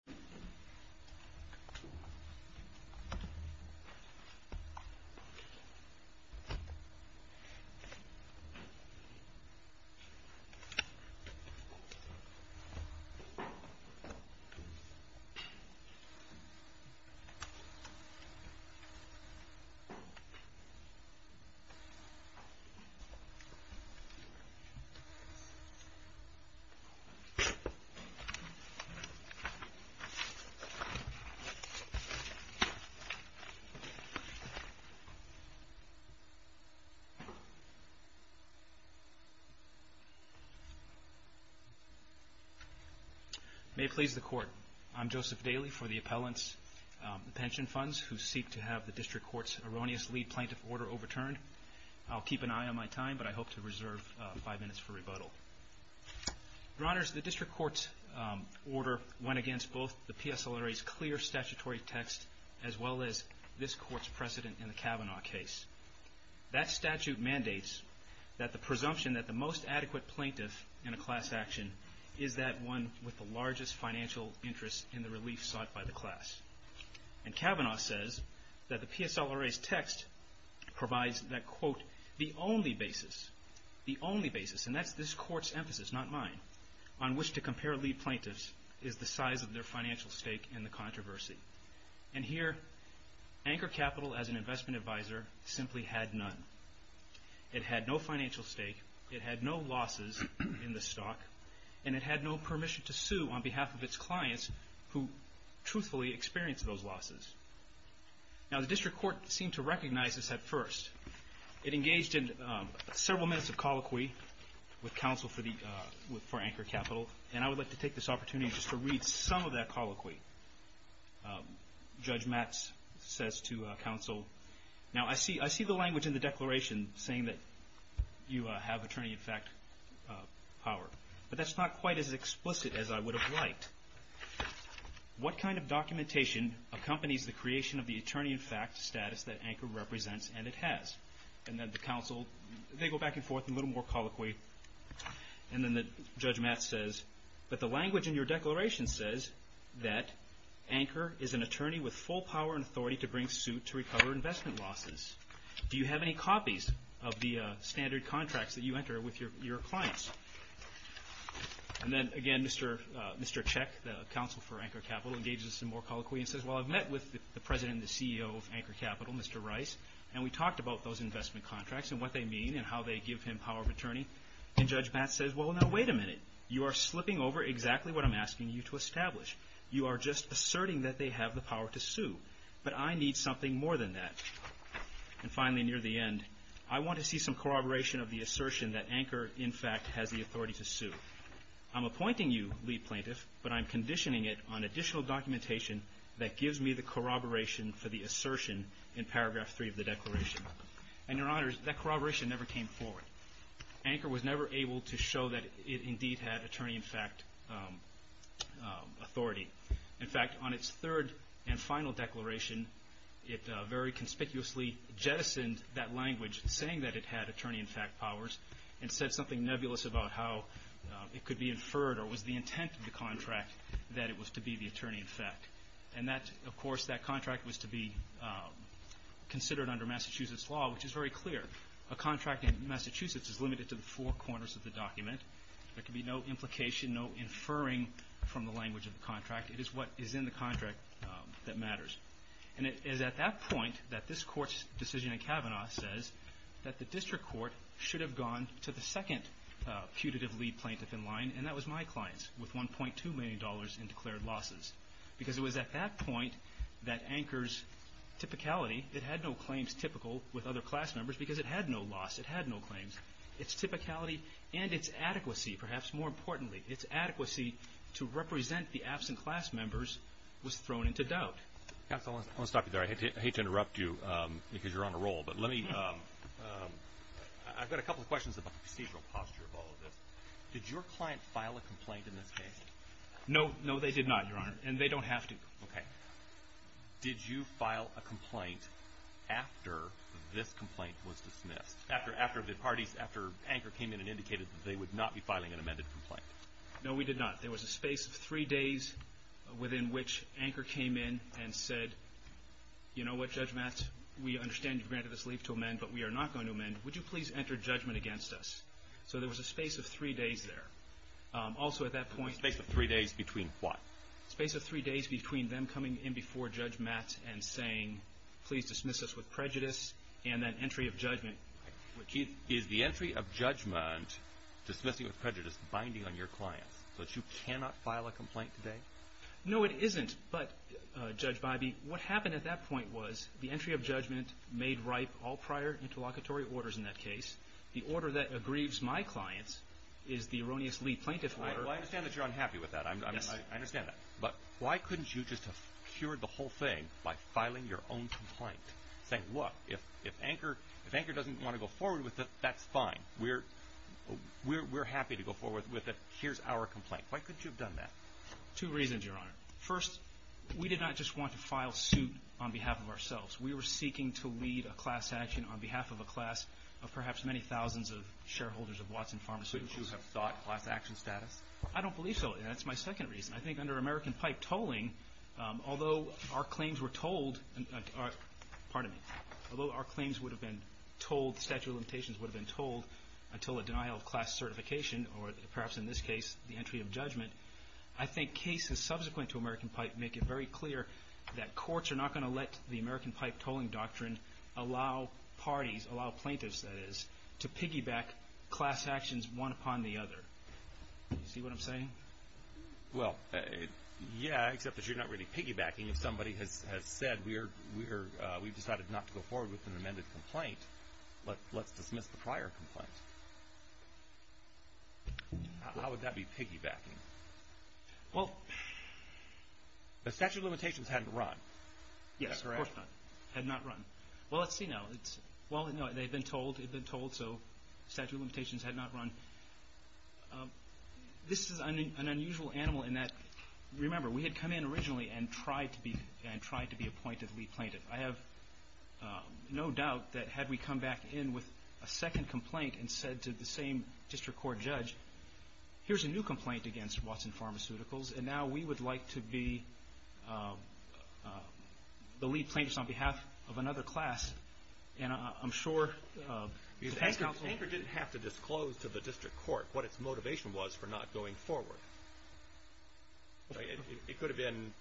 PENSION FUNDS v. WATSON PHARMACEUTICALS PENSION FUNDS v. WATSON PHARMACEUTICALS PENSION FUNDS v. WATSON PHARMACEUTICALS May it please the Court, I'm Joseph Daly for the Appellant's Pension Funds, who seek to have the District Court's erroneous lead plaintiff order overturned. I'll keep an eye on my time, but I hope to reserve five minutes for rebuttal. Your Honors, the District Court's order went against both the PSLRA's clear statutory text as well as this Court's precedent in the Kavanaugh case. That statute mandates that the presumption that the most adequate plaintiff in a class action is that one with the largest financial interest in the relief sought by the class. And Kavanaugh says that the PSLRA's text provides that, quote, the only basis, the only basis, and that's this Court's emphasis, not mine, on which to compare lead plaintiffs is the size of their financial stake in the controversy. And here, Anchor Capital, as an investment advisor, simply had none. It had no financial stake, it had no losses in the stock, and it had no permission to sue on behalf of its clients who truthfully experienced those losses. Now the District Court seemed to recognize this at first. It engaged in several minutes of colloquy with counsel for Anchor Capital, and I would like to take this opportunity just to read some of that colloquy. Judge Matz says to counsel, now I see the language in the declaration saying that you have attorney in fact power, but that's not quite as explicit as I would have liked. What kind of documentation accompanies the creation of the attorney in fact status that Anchor represents and it has? And then the counsel, they go back and forth a little more colloquy, and then Judge Matz says, but the language in your declaration says that Anchor is an attorney with full power and authority to bring suit to recover investment losses. Do you have any copies of the standard contracts that you enter with your clients? And then again, Mr. Cech, the counsel for Anchor Capital, engages in some more colloquy and says, well, I've met with the president and the CEO of Anchor Capital, Mr. Rice, and we talked about those investment contracts and what they mean and how they give him power of attorney. And Judge Matz says, well, now wait a minute. You are slipping over exactly what I'm asking you to establish. You are just asserting that they have the power to sue, but I need something more than that. And finally, near the end, I want to see some corroboration of the assertion that Anchor in fact has the authority to sue. I'm appointing you lead plaintiff, but I'm conditioning it on additional documentation that gives me the corroboration for the assertion in paragraph three of the declaration. And your honors, that corroboration never came forward. Anchor was never able to show that it indeed had attorney-in-fact authority. In fact, on its third and final declaration, it very conspicuously jettisoned that language saying that it had attorney-in-fact powers and said something nebulous about how it could be inferred or was the intent of the contract that it was to be the attorney-in-fact. And that, of course, that contract was to be considered under Massachusetts law, which is very clear. A contract in Massachusetts is limited to the four corners of the document. There can be no implication, no inferring from the language of the contract. It is what is in the contract that matters. And it is at that point that this Court's decision in Kavanaugh says that the district court should have gone to the second putative lead plaintiff in line, and that was my clients with $1.2 million in declared losses. Because it was at that point that Anchor's typicality, it had no claims typical with other class members because it had no loss, it had no claims. Its typicality and its adequacy, perhaps more importantly, its adequacy to represent the absent class members was thrown into doubt. Counsel, I want to stop you there. I hate to interrupt you because you're on a roll, but let me, I've got a couple of questions about the procedural posture of all of this. Did your client file a complaint in this case? No. No, they did not, Your Honor, and they don't have to. Okay. Did you file a complaint after this complaint was dismissed? After the parties, after Anchor came in and indicated that they would not be filing an amended complaint? No, we did not. There was a space of three days within which Anchor came in and said, you know what, Judge Matz, we understand you've granted us leave to amend, but we are not going to amend. Would you please enter judgment against us? So there was a space of three days there. Also at that point. A space of three days between what? A space of three days between them coming in before Judge Matz and saying, please dismiss us with prejudice, and then entry of judgment. Keith, is the entry of judgment, dismissing with prejudice, binding on your clients? So that you cannot file a complaint today? No, it isn't. But, Judge Bybee, what happened at that point was the entry of judgment made ripe all prior interlocutory orders in that case. The order that aggrieves my clients is the erroneously plaintiff order. Well, I understand that you're unhappy with that. Yes. I understand that. But why couldn't you just have cured the whole thing by filing your own complaint? Saying, look, if Anchor doesn't want to go forward with it, that's fine. We're happy to go forward with it. Here's our complaint. Why couldn't you have done that? Two reasons, Your Honor. First, we did not just want to file suit on behalf of ourselves. We were seeking to lead a class action on behalf of a class of perhaps many thousands of shareholders of Watson Pharmaceuticals. Don't you have thought class action status? I don't believe so. And that's my second reason. I think under American Pipe tolling, although our claims were told, pardon me, although our claims would have been told, statute of limitations would have been told until a denial of class certification, or perhaps in this case, the entry of judgment, I think cases subsequent to American Pipe make it very clear that courts are not going to let the American Pipe tolling doctrine allow parties, allow plaintiffs, that is, to piggyback class actions one upon the other. Do you see what I'm saying? Well, yeah, except that you're not really piggybacking. If somebody has said we've decided not to go forward with an amended complaint, let's dismiss the prior complaint. How would that be piggybacking? Well, the statute of limitations had not run. Yes, of course not. Had not run. Well, let's see now. Well, no, they had been told, had been told, so statute of limitations had not run. This is an unusual animal in that, remember, we had come in originally and tried to be appointed lead plaintiff. I have no doubt that had we come back in with a second complaint and said to the same district court judge, here's a new complaint against Watson Pharmaceuticals, and now we would like to be the lead plaintiffs on behalf of another class. And I'm sure the past counsel — Anchor didn't have to disclose to the district court what its motivation was for not going forward. It could have been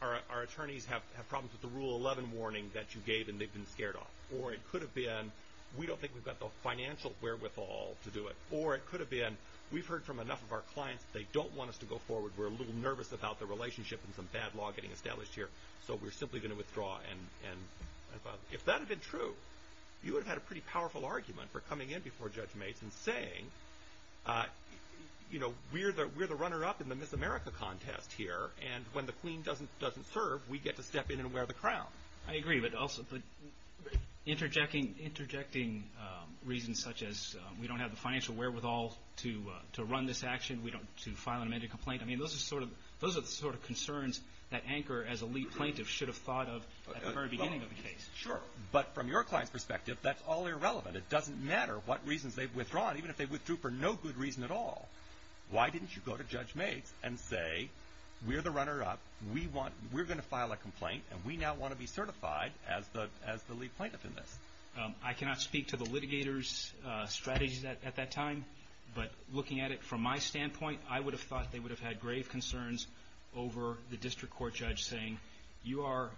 our attorneys have problems with the Rule 11 warning that you gave and they've been scared off. Or it could have been we don't think we've got the financial wherewithal to do it. Or it could have been we've heard from enough of our clients that they don't want us to go forward. We're a little nervous about the relationship and some bad law getting established here, so we're simply going to withdraw. If that had been true, you would have had a pretty powerful argument for coming in before Judge Maitz and saying, we're the runner-up in the Miss America contest here, and when the queen doesn't serve, we get to step in and wear the crown. I agree, but interjecting reasons such as we don't have the financial wherewithal to run this action, to file an amended complaint, I mean, those are the sort of concerns that Anchor, as a lead plaintiff, should have thought of at the very beginning of the case. Sure, but from your client's perspective, that's all irrelevant. It doesn't matter what reasons they've withdrawn, even if they withdrew for no good reason at all. Why didn't you go to Judge Maitz and say, we're the runner-up, we're going to file a complaint, and we now want to be certified as the lead plaintiff in this? I cannot speak to the litigator's strategies at that time, but looking at it from my standpoint, I would have thought they would have had grave concerns over the district court judge saying, you are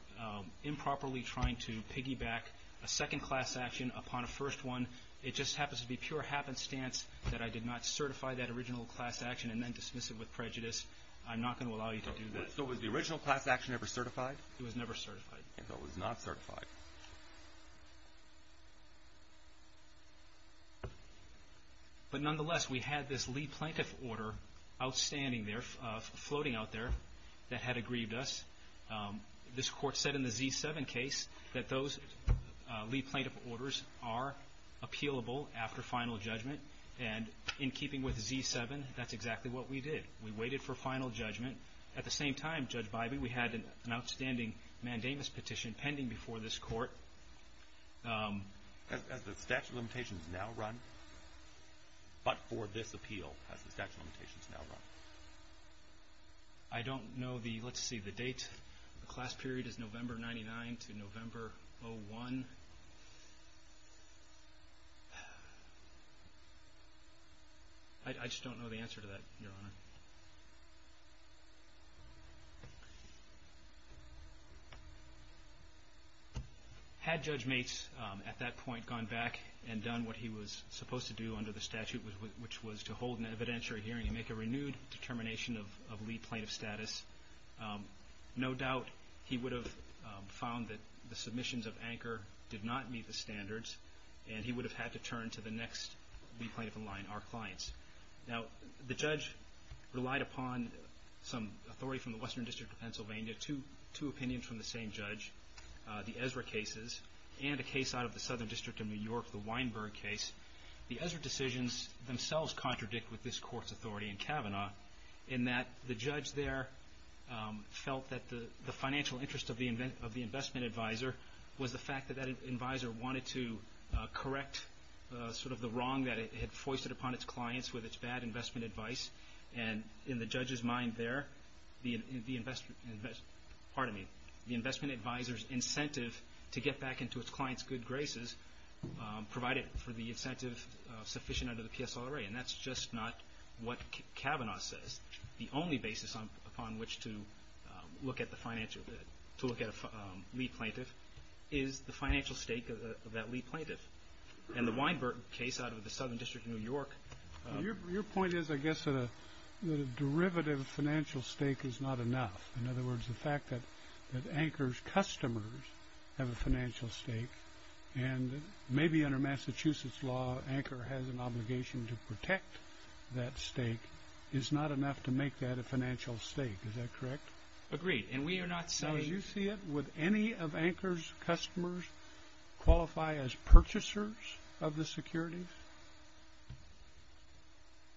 improperly trying to piggyback a second-class action upon a first one. It just happens to be pure happenstance that I did not certify that original class action and then dismiss it with prejudice. I'm not going to allow you to do that. So was the original class action ever certified? It was never certified. It was not certified. But nonetheless, we had this lead plaintiff order outstanding there, floating out there, that had aggrieved us. This court said in the Z7 case that those lead plaintiff orders are appealable after final judgment, and in keeping with Z7, that's exactly what we did. We waited for final judgment. At the same time, Judge Bybee, we had an outstanding mandamus petition pending before this court. Has the statute of limitations now run but for this appeal? Has the statute of limitations now run? I don't know the date. The class period is November 99 to November 01. I just don't know the answer to that, Your Honor. Had Judge Mates at that point gone back and done what he was supposed to do under the statute, which was to hold an evidentiary hearing and make a renewed determination of lead plaintiff status, no doubt he would have found that the submissions of Anker did not meet the standards, and he would have had to turn to the next lead plaintiff in line, our clients. Now, the judge relied upon some authority from the Western District of Pennsylvania, two opinions from the same judge, the Ezra cases, and a case out of the Southern District of New York, the Weinberg case. The Ezra decisions themselves contradict with this court's authority in Kavanaugh in that the judge there felt that the financial interest of the investment advisor was the fact that that advisor wanted to correct sort of the wrong that it had foisted upon its clients with its bad investment advice. And in the judge's mind there, the investment advisor's incentive to get back into its clients' good graces provided for the incentive sufficient under the PSLRA. And that's just not what Kavanaugh says. The only basis upon which to look at a lead plaintiff is the financial stake of that lead plaintiff. And the Weinberg case out of the Southern District of New York... Your point is, I guess, that a derivative financial stake is not enough. In other words, the fact that Anker's customers have a financial stake, and maybe under Massachusetts law Anker has an obligation to protect that stake, is not enough to make that a financial stake. Is that correct? Agreed. And we are not saying... As you see it, would any of Anker's customers qualify as purchasers of the securities?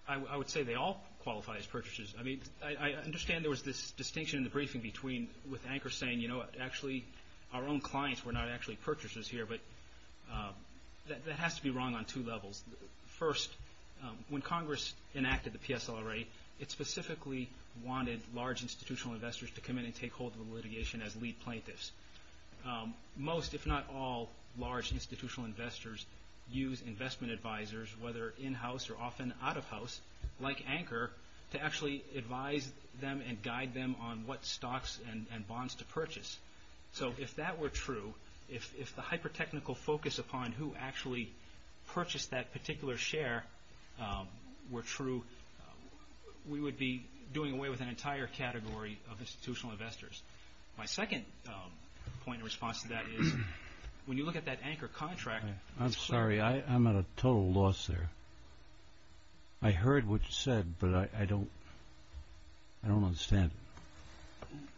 I would say they all qualify as purchasers. I mean, I understand there was this distinction in the briefing between with Anker saying, you know, actually our own clients were not actually purchasers here, but that has to be wrong on two levels. First, when Congress enacted the PSLRA, it specifically wanted large institutional investors to come in and take hold of the litigation as lead plaintiffs. Most, if not all, large institutional investors use investment advisors, whether in-house or often out-of-house, like Anker, to actually advise them and guide them on what stocks and bonds to purchase. So if that were true, if the hyper-technical focus upon who actually purchased that particular share were true, we would be doing away with an entire category of institutional investors. My second point in response to that is when you look at that Anker contract... I'm sorry, I'm at a total loss there. I heard what you said, but I don't understand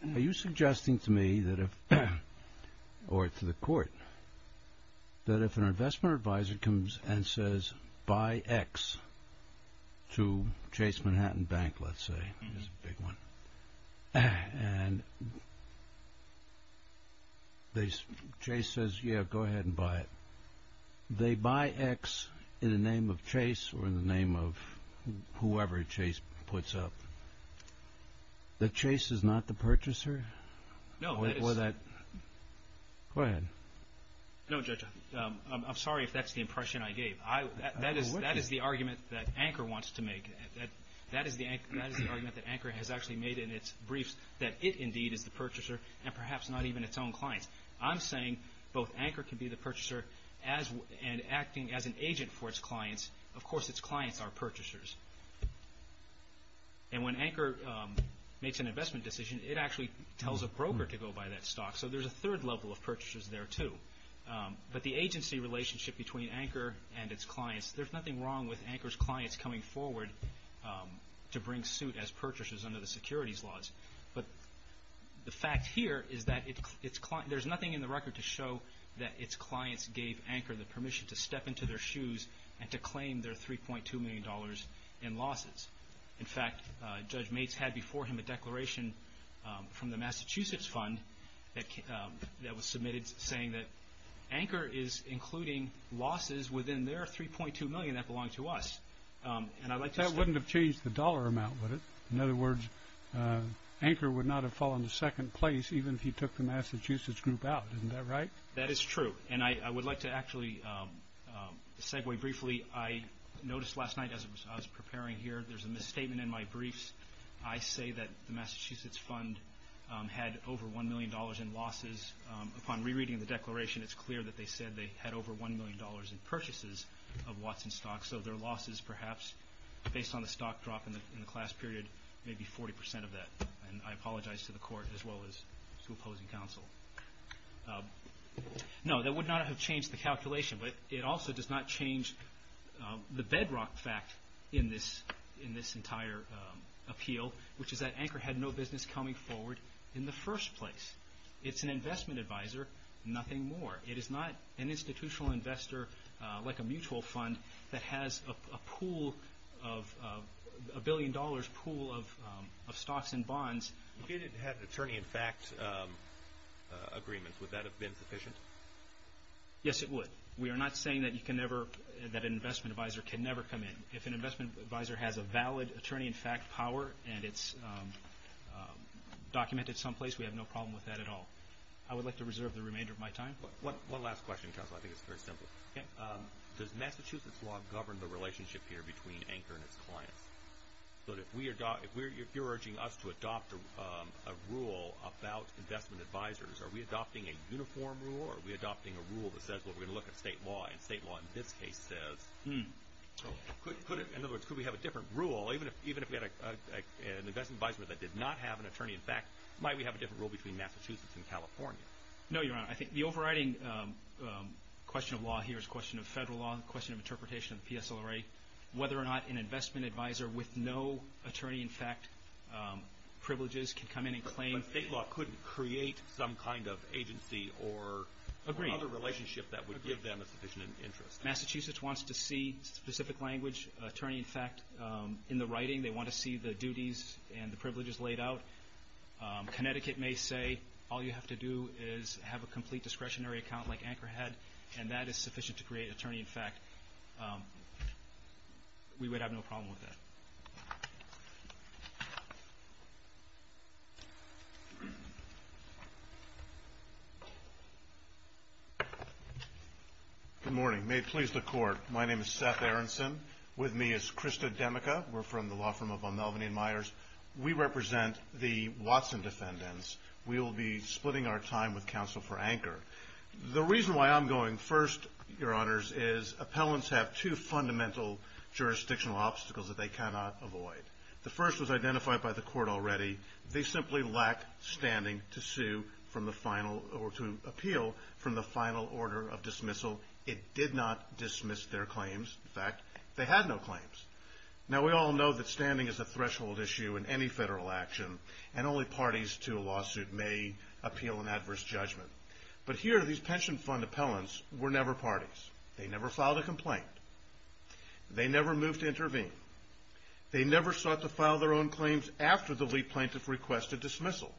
it. Are you suggesting to me that if, or to the court, that if an investment advisor comes and says, buy X to Chase Manhattan Bank, let's say, and Chase says, yeah, go ahead and buy it. They buy X in the name of Chase or in the name of whoever Chase puts up. That Chase is not the purchaser? No, that is... Go ahead. No, Judge, I'm sorry if that's the impression I gave. That is the argument that Anker wants to make. That is the argument that Anker has actually made in its briefs, that it indeed is the purchaser and perhaps not even its own clients. I'm saying both Anker can be the purchaser and acting as an agent for its clients. Of course, its clients are purchasers. And when Anker makes an investment decision, it actually tells a broker to go buy that stock. So there's a third level of purchasers there, too. But the agency relationship between Anker and its clients, there's nothing wrong with Anker's clients coming forward to bring suit as purchasers under the securities laws. But the fact here is that there's nothing in the record to show that its clients gave Anker the permission to step into their shoes and to claim their $3.2 million in losses. In fact, Judge Maitz had before him a declaration from the Massachusetts Fund that was submitted saying that Anker is including losses within their $3.2 million that belong to us. That wouldn't have changed the dollar amount, would it? In other words, Anker would not have fallen to second place even if he took the Massachusetts group out. Isn't that right? That is true. And I would like to actually segue briefly. I noticed last night as I was preparing here, there's a misstatement in my briefs. I say that the Massachusetts Fund had over $1 million in losses. Upon rereading the declaration, it's clear that they said they had over $1 million in purchases of Watson stocks. So their losses perhaps, based on the stock drop in the class period, may be 40% of that. And I apologize to the Court as well as to opposing counsel. No, that would not have changed the calculation. But it also does not change the bedrock fact in this entire appeal, which is that Anker had no business coming forward in the first place. It's an investment advisor, nothing more. It is not an institutional investor like a mutual fund that has a pool of a billion dollars pool of stocks and bonds. If you didn't have an attorney-in-fact agreement, would that have been sufficient? Yes, it would. We are not saying that an investment advisor can never come in. If an investment advisor has a valid attorney-in-fact power and it's documented someplace, we have no problem with that at all. I would like to reserve the remainder of my time. One last question, counsel. I think it's very simple. Does Massachusetts law govern the relationship here between Anker and its clients? If you're urging us to adopt a rule about investment advisors, are we adopting a uniform rule? Are we adopting a rule that says, well, we're going to look at state law, and state law in this case says, in other words, could we have a different rule even if we had an investment advisor that did not have an attorney-in-fact? Might we have a different rule between Massachusetts and California? No, Your Honor. I think the overriding question of law here is a question of federal law, a question of interpretation of the PSLRA, whether or not an investment advisor with no attorney-in-fact privileges can come in and claim. But state law couldn't create some kind of agency or another relationship that would give them a sufficient interest. Massachusetts wants to see specific language, attorney-in-fact in the writing. They want to see the duties and the privileges laid out. Connecticut may say all you have to do is have a complete discretionary account like Anker had, and that is sufficient to create attorney-in-fact. We would have no problem with that. Good morning. May it please the Court, my name is Seth Aronson. With me is Krista Demicka. We're from the law firm of Mulvaney & Myers. We represent the Watson defendants. We will be splitting our time with counsel for Anker. The reason why I'm going first, Your Honors, is appellants have two fundamental jurisdictional obstacles that they cannot avoid. The first was identified by the court already. They simply lack standing to sue from the final or to appeal from the final order of dismissal. It did not dismiss their claims. In fact, they had no claims. Now, we all know that standing is a threshold issue in any federal action, and only parties to a lawsuit may appeal an adverse judgment. But here, these pension fund appellants were never parties. They never filed a complaint. They never moved to intervene. They never sought to file their own claims after the lead plaintiff requested dismissal.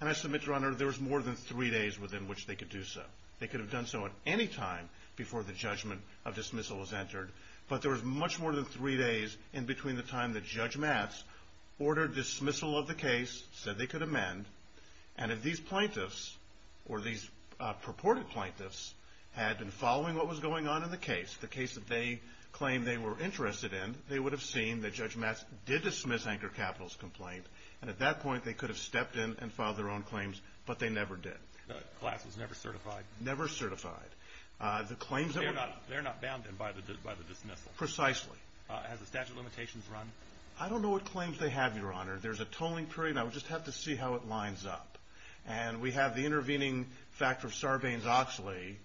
And I submit, Your Honor, there was more than three days within which they could do so. They could have done so at any time before the judgment of dismissal was entered. But there was much more than three days in between the time that Judge Matz ordered dismissal of the case, said they could amend, and if these plaintiffs or these purported plaintiffs had been following what was going on in the case, the case that they claimed they were interested in, they would have seen that Judge Matz did dismiss Anker Capital's complaint. And at that point, they could have stepped in and filed their own claims, but they never did. The class was never certified. Never certified. They're not bound then by the dismissal. Precisely. Has the statute of limitations run? I don't know what claims they have, Your Honor. There's a tolling period. I would just have to see how it lines up. And we have the intervening factor of Sarbanes-Oxley,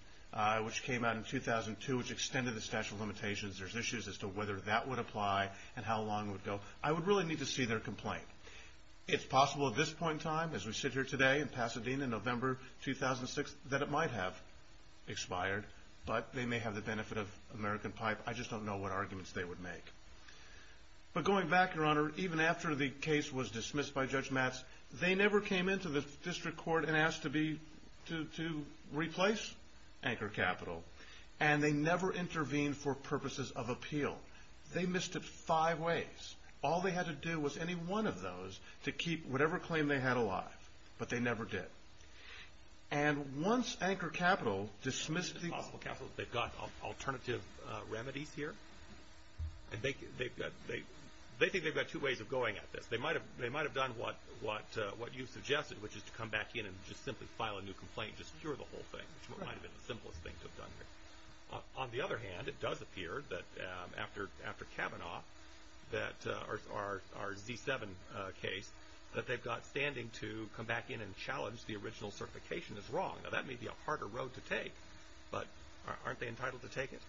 which came out in 2002, which extended the statute of limitations. There's issues as to whether that would apply and how long it would go. I would really need to see their complaint. It's possible at this point in time, as we sit here today in Pasadena, November 2006, that it might have expired, but they may have the benefit of American pipe. I just don't know what arguments they would make. But going back, Your Honor, even after the case was dismissed by Judge Matz, they never came into the district court and asked to replace Anker Capital, and they never intervened for purposes of appeal. They missed it five ways. All they had to do was any one of those to keep whatever claim they had alive. But they never did. And once Anker Capital dismissed the case. They've got alternative remedies here. They think they've got two ways of going at this. They might have done what you suggested, which is to come back in and just simply file a new complaint, just cure the whole thing, which might have been the simplest thing to have done here. On the other hand, it does appear that after Kavanaugh, our Z7 case, that they've got standing to come back in and challenge the original certification as wrong. Now, that may be a harder road to take, but aren't they entitled to take it?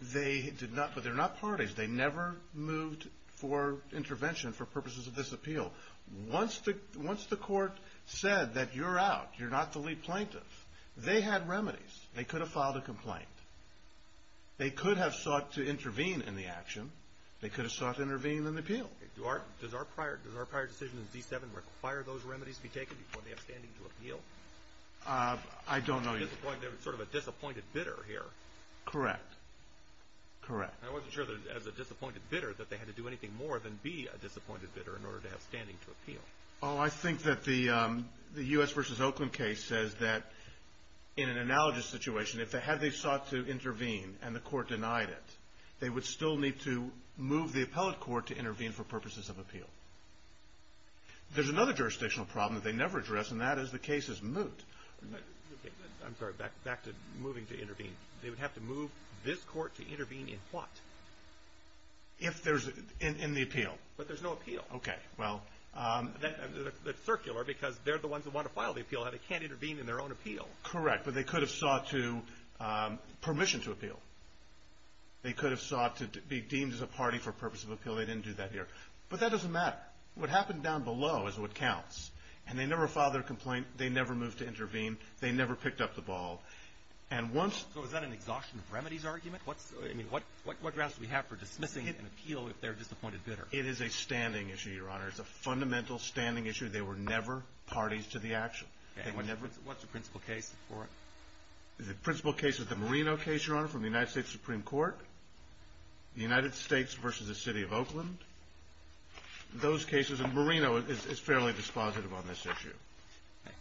They did not, but they're not parties. They never moved for intervention for purposes of this appeal. Once the court said that you're out, you're not the lead plaintiff, they had remedies. They could have filed a complaint. They could have sought to intervene in the action. They could have sought to intervene in the appeal. Does our prior decision in Z7 require those remedies to be taken before they have standing to appeal? I don't know. They're sort of a disappointed bidder here. Correct. Correct. I wasn't sure that as a disappointed bidder that they had to do anything more than be a disappointed bidder in order to have standing to appeal. Oh, I think that the U.S. versus Oakland case says that in an analogous situation, if they had sought to intervene and the court denied it, they would still need to move the appellate court to intervene for purposes of appeal. There's another jurisdictional problem that they never address, and that is the case is moot. I'm sorry. Back to moving to intervene. They would have to move this court to intervene in what? In the appeal. But there's no appeal. Okay. Well. It's circular because they're the ones who want to file the appeal, and they can't intervene in their own appeal. Correct. But they could have sought to – permission to appeal. They could have sought to be deemed as a party for purposes of appeal. They didn't do that here. But that doesn't matter. What happened down below is what counts. And they never filed their complaint. They never moved to intervene. They never picked up the ball. And once – So is that an exhaustion of remedies argument? I mean, what grounds do we have for dismissing an appeal if they're a disappointed bidder? It is a standing issue, Your Honor. It's a fundamental standing issue. They were never parties to the action. Okay. What's the principal case for it? The principal case is the Marino case, Your Honor, from the United States Supreme Court. The United States versus the city of Oakland. Those cases – and Marino is fairly dispositive on this issue. Okay.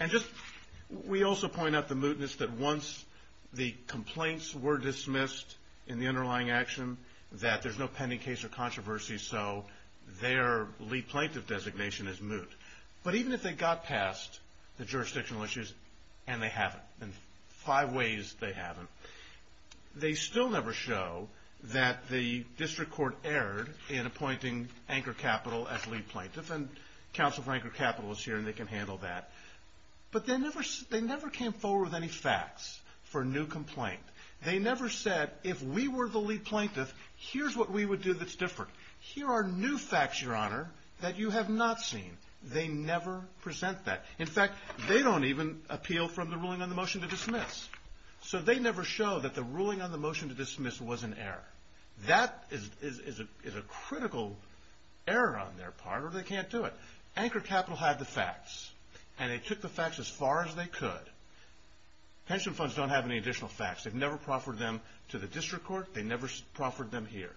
And just – we also point out the mootness that once the complaints were dismissed in the underlying action, that there's no pending case or controversy, so their lead plaintiff designation is moot. But even if they got past the jurisdictional issues – and they haven't. In five ways, they haven't. They still never show that the district court erred in appointing Anchor Capital as lead plaintiff. And counsel for Anchor Capital is here, and they can handle that. But they never came forward with any facts for a new complaint. They never said, if we were the lead plaintiff, here's what we would do that's different. Here are new facts, Your Honor, that you have not seen. They never present that. In fact, they don't even appeal from the ruling on the motion to dismiss. So they never show that the ruling on the motion to dismiss was an error. That is a critical error on their part, or they can't do it. Anchor Capital had the facts, and they took the facts as far as they could. Pension funds don't have any additional facts. They've never proffered them to the district court. They never proffered them here.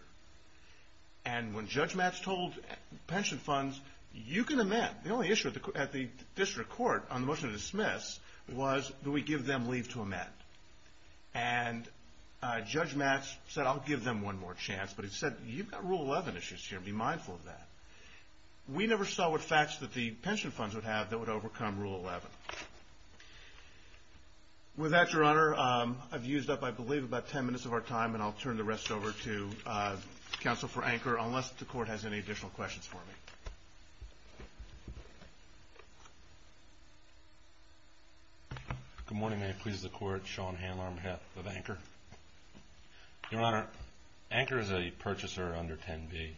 And when Judge Matz told pension funds, you can amend. The only issue at the district court on the motion to dismiss was, do we give them leave to amend? And Judge Matz said, I'll give them one more chance. But he said, you've got Rule 11 issues here. Be mindful of that. We never saw what facts that the pension funds would have that would overcome Rule 11. With that, Your Honor, I've used up, I believe, about 10 minutes of our time, and I'll turn the rest over to counsel for Anchor unless the court has any additional questions for me. Good morning. May it please the Court. Sean Handler, I'm head of Anchor. Your Honor, Anchor is a purchaser under 10B.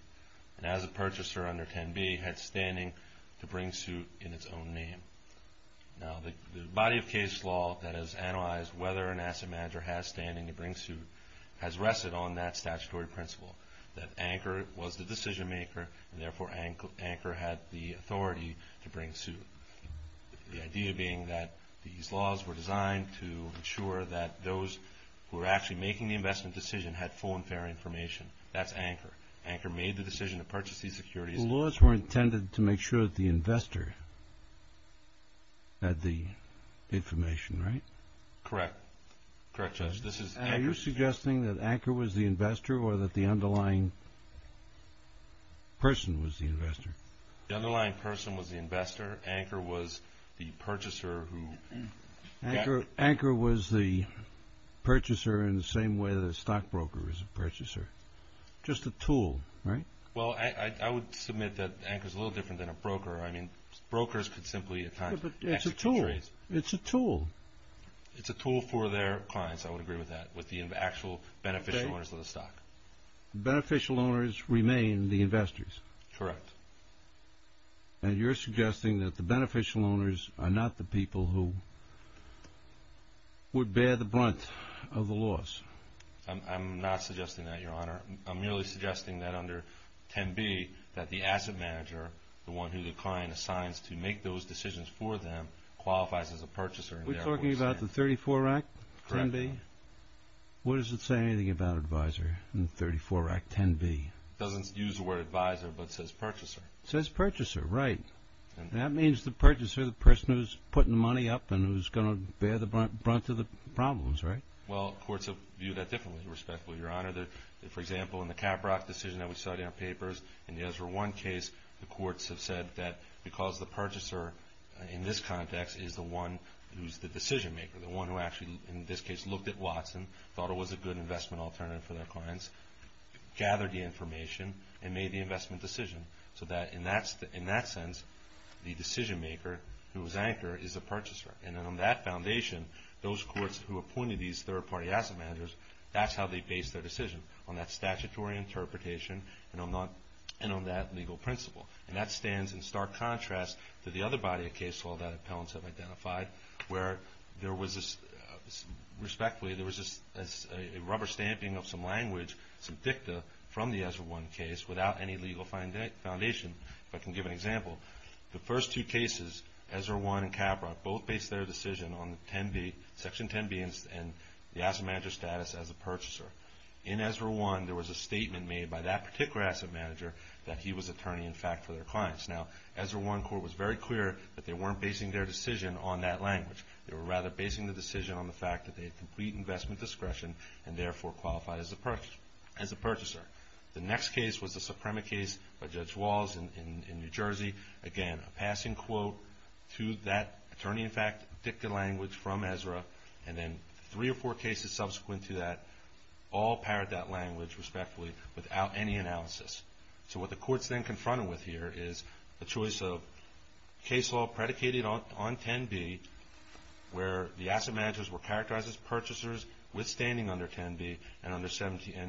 And as a purchaser under 10B, it had standing to bring suit in its own name. Now, the body of case law that has analyzed whether an asset manager has standing to bring suit has rested on that statutory principle, that Anchor was the decision maker, and therefore Anchor had the authority to bring suit. The idea being that these laws were designed to ensure that those who were actually making the investment decision had full and fair information. That's Anchor. Anchor made the decision to purchase these securities. The laws were intended to make sure that the investor had the information, right? Correct. Correct, Judge. Are you suggesting that Anchor was the investor or that the underlying person was the investor? The underlying person was the investor. Anchor was the purchaser who got... Anchor was the purchaser in the same way that a stockbroker is a purchaser. Just a tool, right? Well, I would submit that Anchor is a little different than a broker. I mean, brokers could simply... It's a tool. It's a tool. It's a tool for their clients, I would agree with that, with the actual beneficial owners of the stock. Beneficial owners remain the investors. Correct. And you're suggesting that the beneficial owners are not the people who would bear the brunt of the loss. I'm not suggesting that, Your Honor. I'm merely suggesting that under 10b that the asset manager, the one who the client assigns to make those decisions for them, qualifies as a purchaser. Are we talking about the 34-Rack 10b? Correct. What does it say anything about advisor in 34-Rack 10b? It doesn't use the word advisor but says purchaser. It says purchaser, right. That means the purchaser, the person who's putting the money up and who's going to bear the brunt of the problems, right? Well, courts have viewed that differently, respectfully, Your Honor. For example, in the Caprock decision that we saw in our papers in the Ezra One case, the courts have said that because the purchaser in this context is the one who's the decision-maker, the one who actually, in this case, looked at Watson, thought it was a good investment alternative for their clients, gathered the information, and made the investment decision, so that in that sense, the decision-maker who was anchor is the purchaser. And then on that foundation, those courts who appointed these third-party asset managers, that's how they base their decision, on that statutory interpretation and on that legal principle. And that stands in stark contrast to the other body of case all that appellants have identified, where there was this, respectfully, there was this rubber stamping of some language, some dicta, from the Ezra One case without any legal foundation, if I can give an example. The first two cases, Ezra One and Caprock, both based their decision on Section 10b and the asset manager status as a purchaser. In Ezra One, there was a statement made by that particular asset manager that he was attorney, in fact, for their clients. Now, Ezra One court was very clear that they weren't basing their decision on that language. They were rather basing the decision on the fact that they had complete investment discretion and therefore qualified as a purchaser. The next case was the Suprema case by Judge Walls in New Jersey. Again, a passing quote to that attorney, in fact, dicta language from Ezra. And then three or four cases subsequent to that all paired that language, respectfully, without any analysis. So what the courts then confronted with here is the choice of case law predicated on 10b, where the asset managers were characterized as purchasers withstanding under 10b and under 17a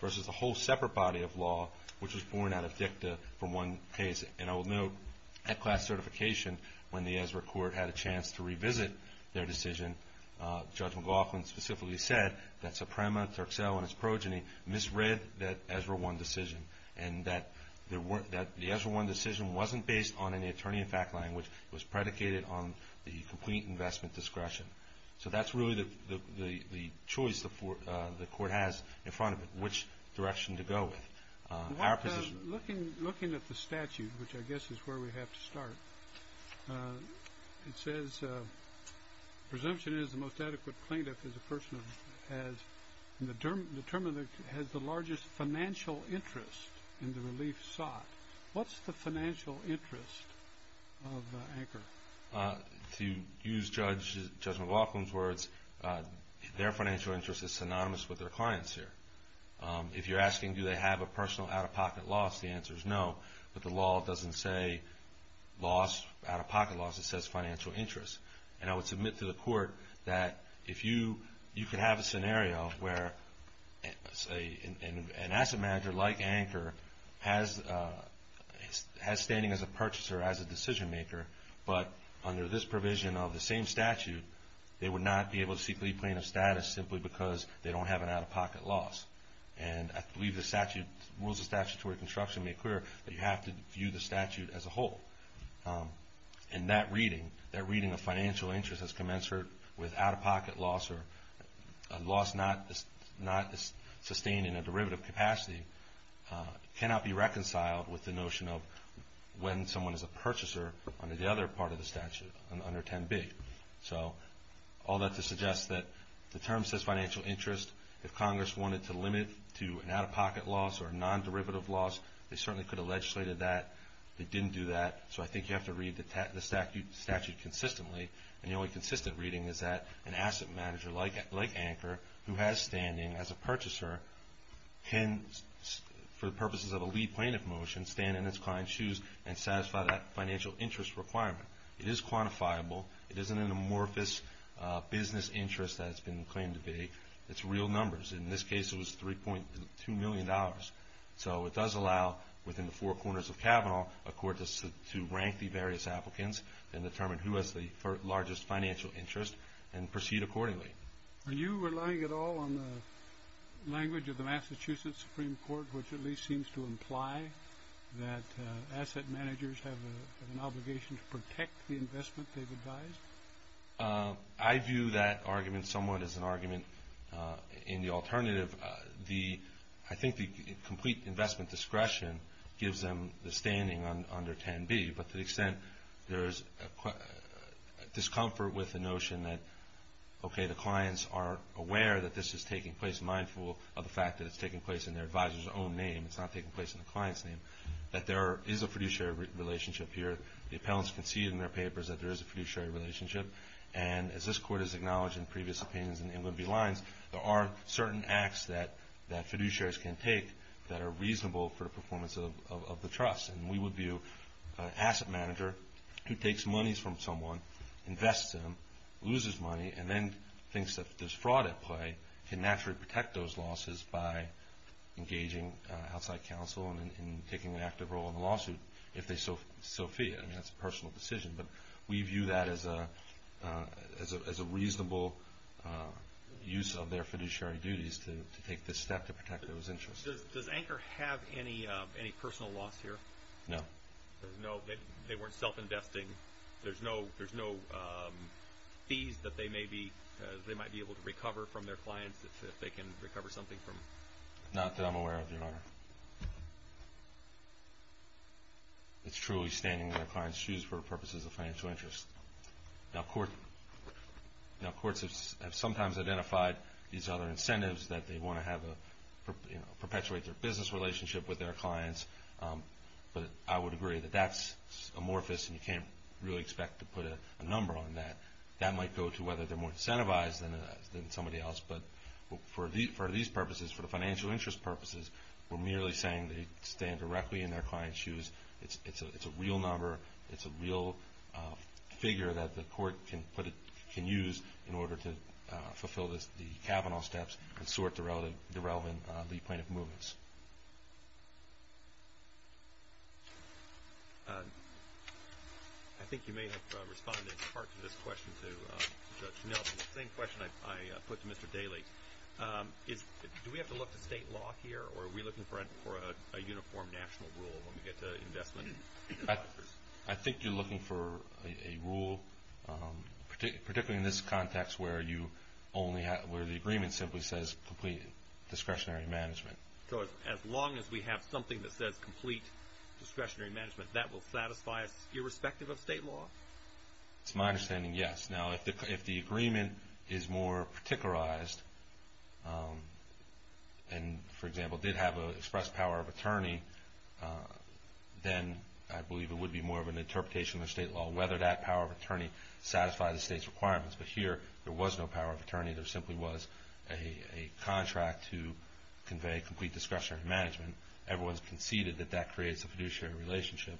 versus a whole separate body of law, which was born out of dicta from one case. And I will note, at class certification, when the Ezra court had a chance to revisit their decision, Judge McLaughlin specifically said that Suprema, Turkcell, and its progeny misread that Ezra One decision and that the Ezra One decision wasn't based on any attorney in fact language. It was predicated on the complete investment discretion. So that's really the choice the court has in front of it, which direction to go with. Looking at the statute, which I guess is where we have to start, it says presumption is the most adequate plaintiff as a person who has determined that he has the largest financial interest in the relief sought. What's the financial interest of Anchor? To use Judge McLaughlin's words, their financial interest is synonymous with their client's here. If you're asking do they have a personal out-of-pocket loss, the answer is no. But the law doesn't say out-of-pocket loss, it says financial interest. And I would submit to the court that you could have a scenario where, say, an asset manager like Anchor has standing as a purchaser, as a decision maker, but under this provision of the same statute, they would not be able to seek leave plaintiff status simply because they don't have an out-of-pocket loss. And I believe the rules of statutory construction make clear that you have to view the statute as a whole. And that reading, that reading of financial interest as commensurate with out-of-pocket loss or a loss not sustained in a derivative capacity, cannot be reconciled with the notion of when someone is a purchaser under the other part of the statute, under 10B. So all that to suggest that the term says financial interest. If Congress wanted to limit to an out-of-pocket loss or a non-derivative loss, they certainly could have legislated that. They didn't do that. So I think you have to read the statute consistently. And the only consistent reading is that an asset manager like Anchor, who has standing as a purchaser, can, for purposes of a leave plaintiff motion, stand in its client's shoes and satisfy that financial interest requirement. It is quantifiable. It isn't an amorphous business interest that it's been claimed to be. It's real numbers. In this case, it was $3.2 million. So it does allow, within the four corners of Kavanaugh, a court to rank the various applicants and determine who has the largest financial interest and proceed accordingly. Are you relying at all on the language of the Massachusetts Supreme Court, which at least seems to imply that asset managers have an obligation to protect the investment they've advised? I view that argument somewhat as an argument in the alternative. I think the complete investment discretion gives them the standing under 10B, but to the extent there is discomfort with the notion that, okay, the clients are aware that this is taking place, mindful of the fact that it's taking place in their advisor's own name. It's not taking place in the client's name. That there is a fiduciary relationship here. The appellants can see in their papers that there is a fiduciary relationship. And as this Court has acknowledged in previous opinions in the Inwood v. Lines, there are certain acts that fiduciaries can take that are reasonable for the performance of the trust. And we would view an asset manager who takes monies from someone, invests them, loses money, and then thinks that there's fraud at play, can naturally protect those losses by engaging outside counsel and taking an active role in the lawsuit if they so feel. I mean, that's a personal decision. But we view that as a reasonable use of their fiduciary duties to take this step to protect those interests. Judge, does Anchor have any personal loss here? No. They weren't self-investing? There's no fees that they might be able to recover from their clients if they can recover something from them? Not that I'm aware of, Your Honor. It's truly standing in their client's shoes for purposes of financial interest. Now, courts have sometimes identified these other incentives that they want to have, you know, perpetuate their business relationship with their clients. But I would agree that that's amorphous and you can't really expect to put a number on that. That might go to whether they're more incentivized than somebody else. But for these purposes, for the financial interest purposes, it's a real number, it's a real figure that the court can use in order to fulfill the Kavanaugh steps and sort the relevant lead plaintiff movements. I think you may have responded in part to this question to Judge Nelson, the same question I put to Mr. Daley. Do we have to look to state law here or are we looking for a uniform national rule when we get to investment? I think you're looking for a rule, particularly in this context, where the agreement simply says complete discretionary management. So as long as we have something that says complete discretionary management, that will satisfy us irrespective of state law? It's my understanding, yes. Now, if the agreement is more particularized and, for example, did have an expressed power of attorney, then I believe it would be more of an interpretation of state law whether that power of attorney satisfied the state's requirements. But here, there was no power of attorney. There simply was a contract to convey complete discretionary management. Everyone's conceded that that creates a fiduciary relationship.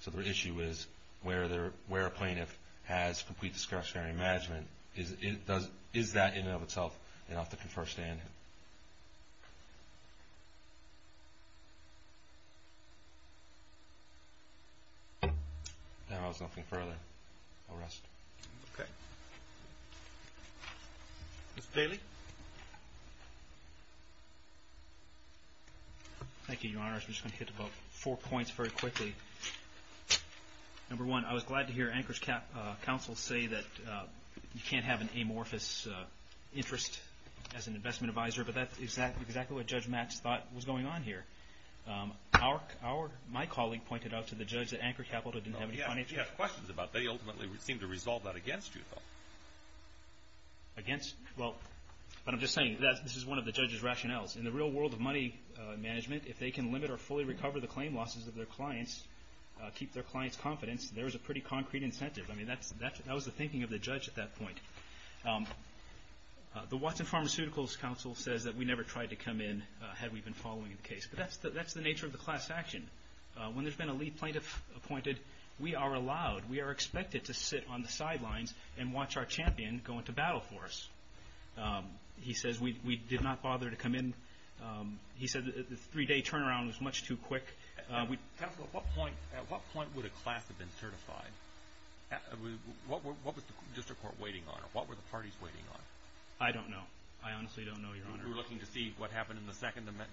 So the issue is where a plaintiff has complete discretionary management, is that in and of itself enough to confer stand? If there's nothing further, I'll rest. Okay. Mr. Daley? Thank you, Your Honor. I'm just going to hit about four points very quickly. Number one, I was glad to hear Anchor's counsel say that you can't have an amorphous interest as an investment advisor, but that's exactly what Judge Mats thought was going on here. My colleague pointed out to the judge that Anchor Capital didn't have any financial... You have questions about that. You ultimately seem to resolve that against you, though. Against? Well, but I'm just saying this is one of the judge's rationales. In the real world of money management, if they can limit or fully recover the claim losses of their clients, keep their clients' confidence, there is a pretty concrete incentive. I mean, that was the thinking of the judge at that point. The Watson Pharmaceuticals counsel says that we never tried to come in had we been following the case. But that's the nature of the class action. When there's been a lead plaintiff appointed, we are allowed, we are expected to sit on the sidelines and watch our champion go into battle for us. He says we did not bother to come in. He said the three-day turnaround was much too quick. Counsel, at what point would a class have been certified? What was the district court waiting on? What were the parties waiting on? I don't know. I honestly don't know, Your Honor. You were looking to see what happened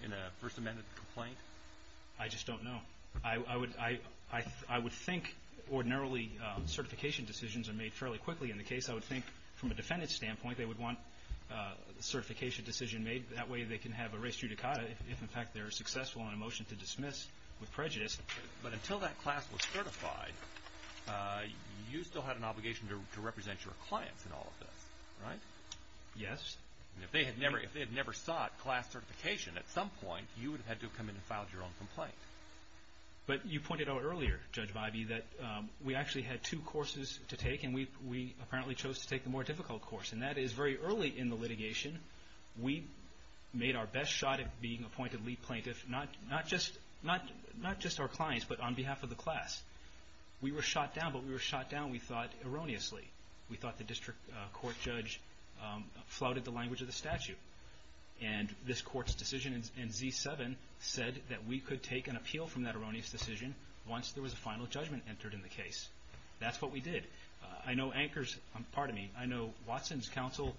in a First Amendment complaint? I just don't know. I would think ordinarily certification decisions are made fairly quickly in the case. I would think from a defendant's standpoint, they would want a certification decision made. That way they can have a res judicata if, in fact, they're successful in a motion to dismiss with prejudice. But until that class was certified, you still had an obligation to represent your clients in all of this, right? Yes. If they had never sought class certification at some point, you would have had to have come in and filed your own complaint. But you pointed out earlier, Judge Vibey, that we actually had two courses to take, and we apparently chose to take the more difficult course, and that is very early in the litigation, we made our best shot at being appointed lead plaintiff, not just our clients, but on behalf of the class. We were shot down, but we were shot down, we thought, erroneously. We thought the district court judge flouted the language of the statute. And this court's decision in Z-7 said that we could take an appeal from that erroneous decision once there was a final judgment entered in the case. That's what we did. I know Watson's counsel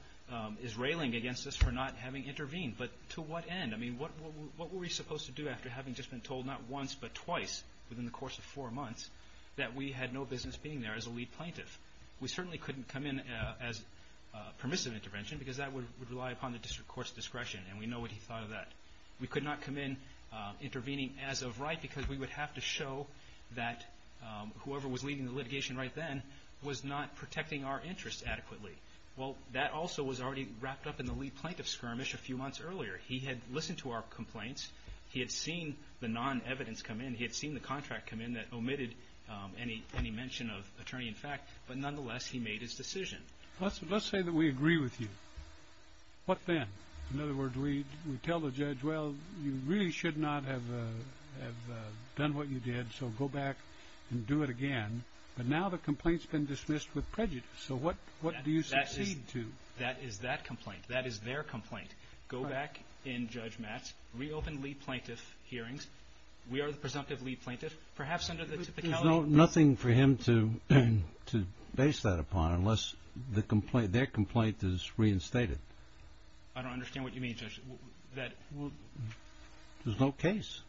is railing against us for not having intervened, but to what end? I mean, what were we supposed to do after having just been told not once, but twice within the course of four months that we had no business being there as a lead plaintiff? We certainly couldn't come in as permissive intervention, because that would rely upon the district court's discretion, and we know what he thought of that. We could not come in intervening as of right, because we would have to show that whoever was leading the litigation right then was not protecting our interests adequately. Well, that also was already wrapped up in the lead plaintiff's skirmish a few months earlier. He had listened to our complaints. He had seen the non-evidence come in. He had seen the contract come in that omitted any mention of attorney-in-fact, but nonetheless he made his decision. Let's say that we agree with you. What then? In other words, we tell the judge, well, you really should not have done what you did, so go back and do it again. But now the complaint's been dismissed with prejudice, so what do you succeed to? That is that complaint. That is their complaint. Go back and, Judge Matt, reopen lead plaintiff hearings. We are the presumptive lead plaintiff, perhaps under the typicality. There's nothing for him to base that upon unless their complaint is reinstated. I don't understand what you mean, Judge. There's no case.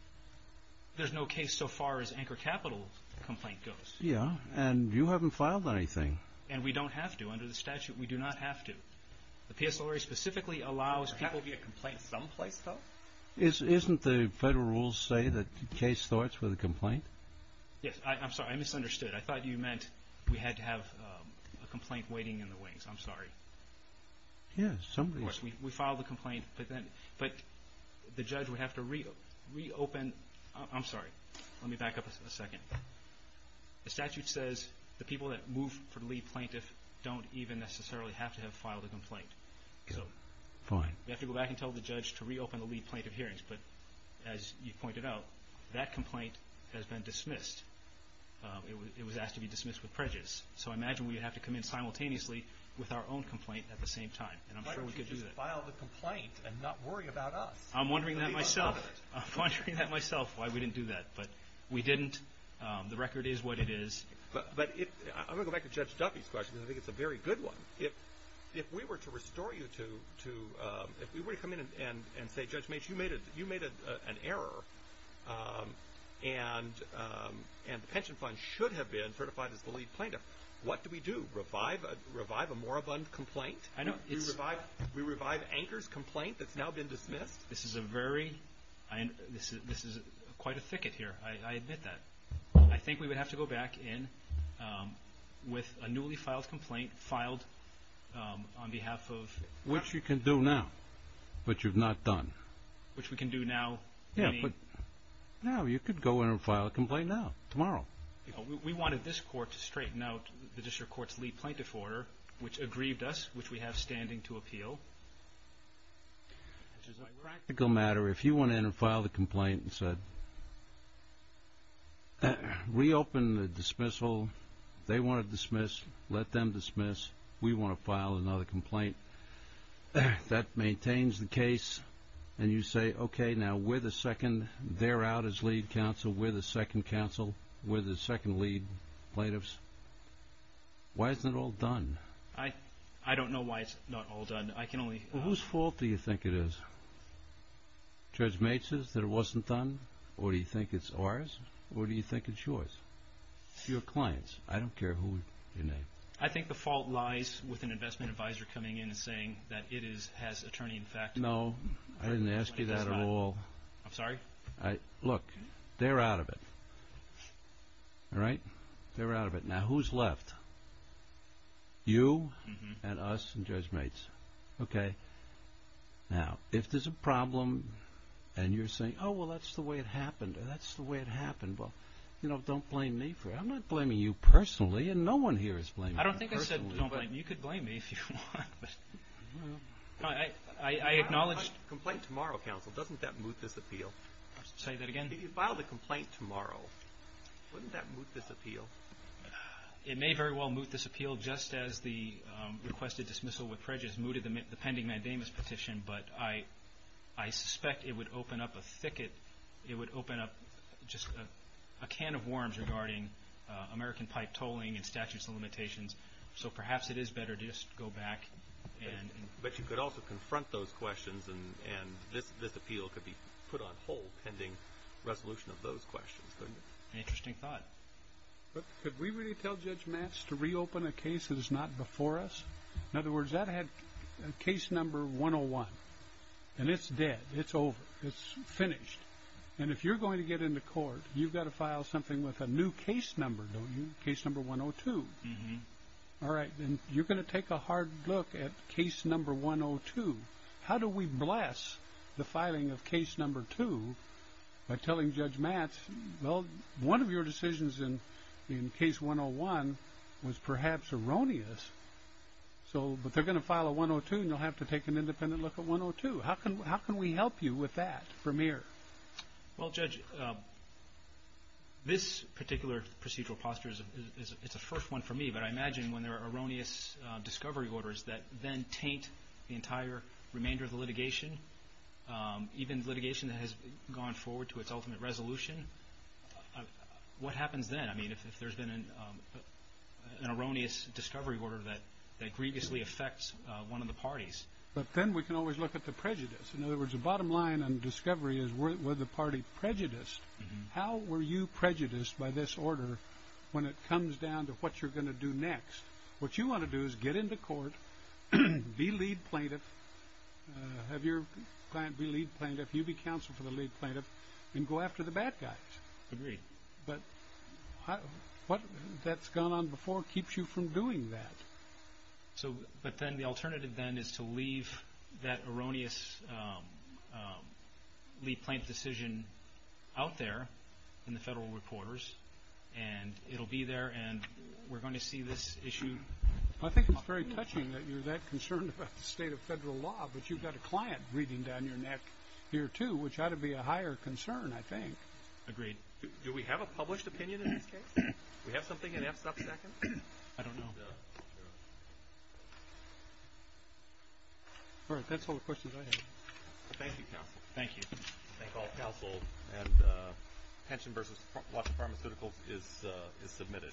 There's no case so far as Anchor Capital's complaint goes. Yeah, and you haven't filed anything. And we don't have to. Under the statute, we do not have to. The PSLRA specifically allows people to get complaints someplace, though. Isn't the federal rules say that the case starts with a complaint? Yes. I'm sorry. I misunderstood. I thought you meant we had to have a complaint waiting in the wings. I'm sorry. Yes. We filed the complaint, but the judge would have to reopen. I'm sorry. Let me back up a second. The statute says the people that move for lead plaintiff don't even necessarily have to have filed a complaint. Fine. We have to go back and tell the judge to reopen the lead plaintiff hearings. But as you pointed out, that complaint has been dismissed. It was asked to be dismissed with prejudice. So I imagine we would have to come in simultaneously with our own complaint at the same time. And I'm sure we could do that. Why don't you just file the complaint and not worry about us? I'm wondering that myself. I'm wondering that myself why we didn't do that. But we didn't. The record is what it is. But I'm going to go back to Judge Duffy's question, because I think it's a very good one. If we were to restore you to ‑‑ if we were to come in and say, Judge Mace, you made an error, and the pension fund should have been certified as the lead plaintiff, what do we do? Revive a more abundant complaint? We revive Anchor's complaint that's now been dismissed? This is a very ‑‑ this is quite a thicket here. I admit that. I think we would have to go back in with a newly filed complaint filed on behalf of ‑‑ Which you can do now, but you've not done. Which we can do now. Yeah, but now you could go in and file a complaint now, tomorrow. We wanted this court to straighten out the district court's lead plaintiff order, which aggrieved us, which we have standing to appeal. Which is a practical matter. If you went in and filed a complaint and said, reopen the dismissal. They want it dismissed. Let them dismiss. We want to file another complaint. That maintains the case, and you say, okay, now we're the second. They're out as lead counsel. We're the second counsel. We're the second lead plaintiffs. Why isn't it all done? I don't know why it's not all done. Whose fault do you think it is? Judge Maitz's, that it wasn't done? Or do you think it's ours? Or do you think it's yours? Your clients. I don't care who you name. I think the fault lies with an investment advisor coming in and saying that it has attorney in effect. No, I didn't ask you that at all. I'm sorry? Look, they're out of it. All right? They're out of it. Now, who's left? You, and us, and Judge Maitz. Okay? Now, if there's a problem, and you're saying, oh, well, that's the way it happened, and that's the way it happened, well, you know, don't blame me for it. I'm not blaming you personally, and no one here is blaming you personally. I don't think I said don't blame me. You could blame me if you want, but. I acknowledge. Complaint tomorrow, counsel. Doesn't that moot this appeal? Say that again? If you file the complaint tomorrow, wouldn't that moot this appeal? It may very well moot this appeal, just as the requested dismissal with prejudice mooted the pending mandamus petition, but I suspect it would open up a thicket. It would open up just a can of worms regarding American pipe tolling and statutes of limitations. So perhaps it is better to just go back and... But you could also confront those questions, and this appeal could be put on hold pending resolution of those questions, couldn't it? Interesting thought. Could we really tell Judge Matz to reopen a case that is not before us? In other words, that had case number 101, and it's dead. It's over. It's finished. And if you're going to get into court, you've got to file something with a new case number, don't you? Case number 102. All right, then you're going to take a hard look at case number 102. How do we bless the filing of case number two by telling Judge Matz, well, one of your decisions in case 101 was perhaps erroneous, but they're going to file a 102, and you'll have to take an independent look at 102. How can we help you with that from here? Well, Judge, this particular procedural posture is a first one for me, but I imagine when there are erroneous discovery orders that then taint the entire remainder of the litigation, even litigation that has gone forward to its ultimate resolution, what happens then? I mean, if there's been an erroneous discovery order that egregiously affects one of the parties. But then we can always look at the prejudice. In other words, the bottom line on discovery is were the party prejudiced? How were you prejudiced by this order when it comes down to what you're going to do next? What you want to do is get into court, be lead plaintiff, have your client be lead plaintiff, you be counsel for the lead plaintiff, and go after the bad guys. Agreed. But what that's gone on before keeps you from doing that. But then the alternative then is to leave that erroneous lead plaintiff decision out there in the federal reporters, and it'll be there, and we're going to see this issue. I think it's very touching that you're that concerned about the state of federal law, but you've got a client breathing down your neck here, too, which ought to be a higher concern, I think. Agreed. Do we have a published opinion in this case? Do we have something in f-sub second? I don't know. All right. That's all the questions I have. Thank you, counsel. Thank you. Thank all counsel. And pension versus watch the pharmaceuticals is submitted.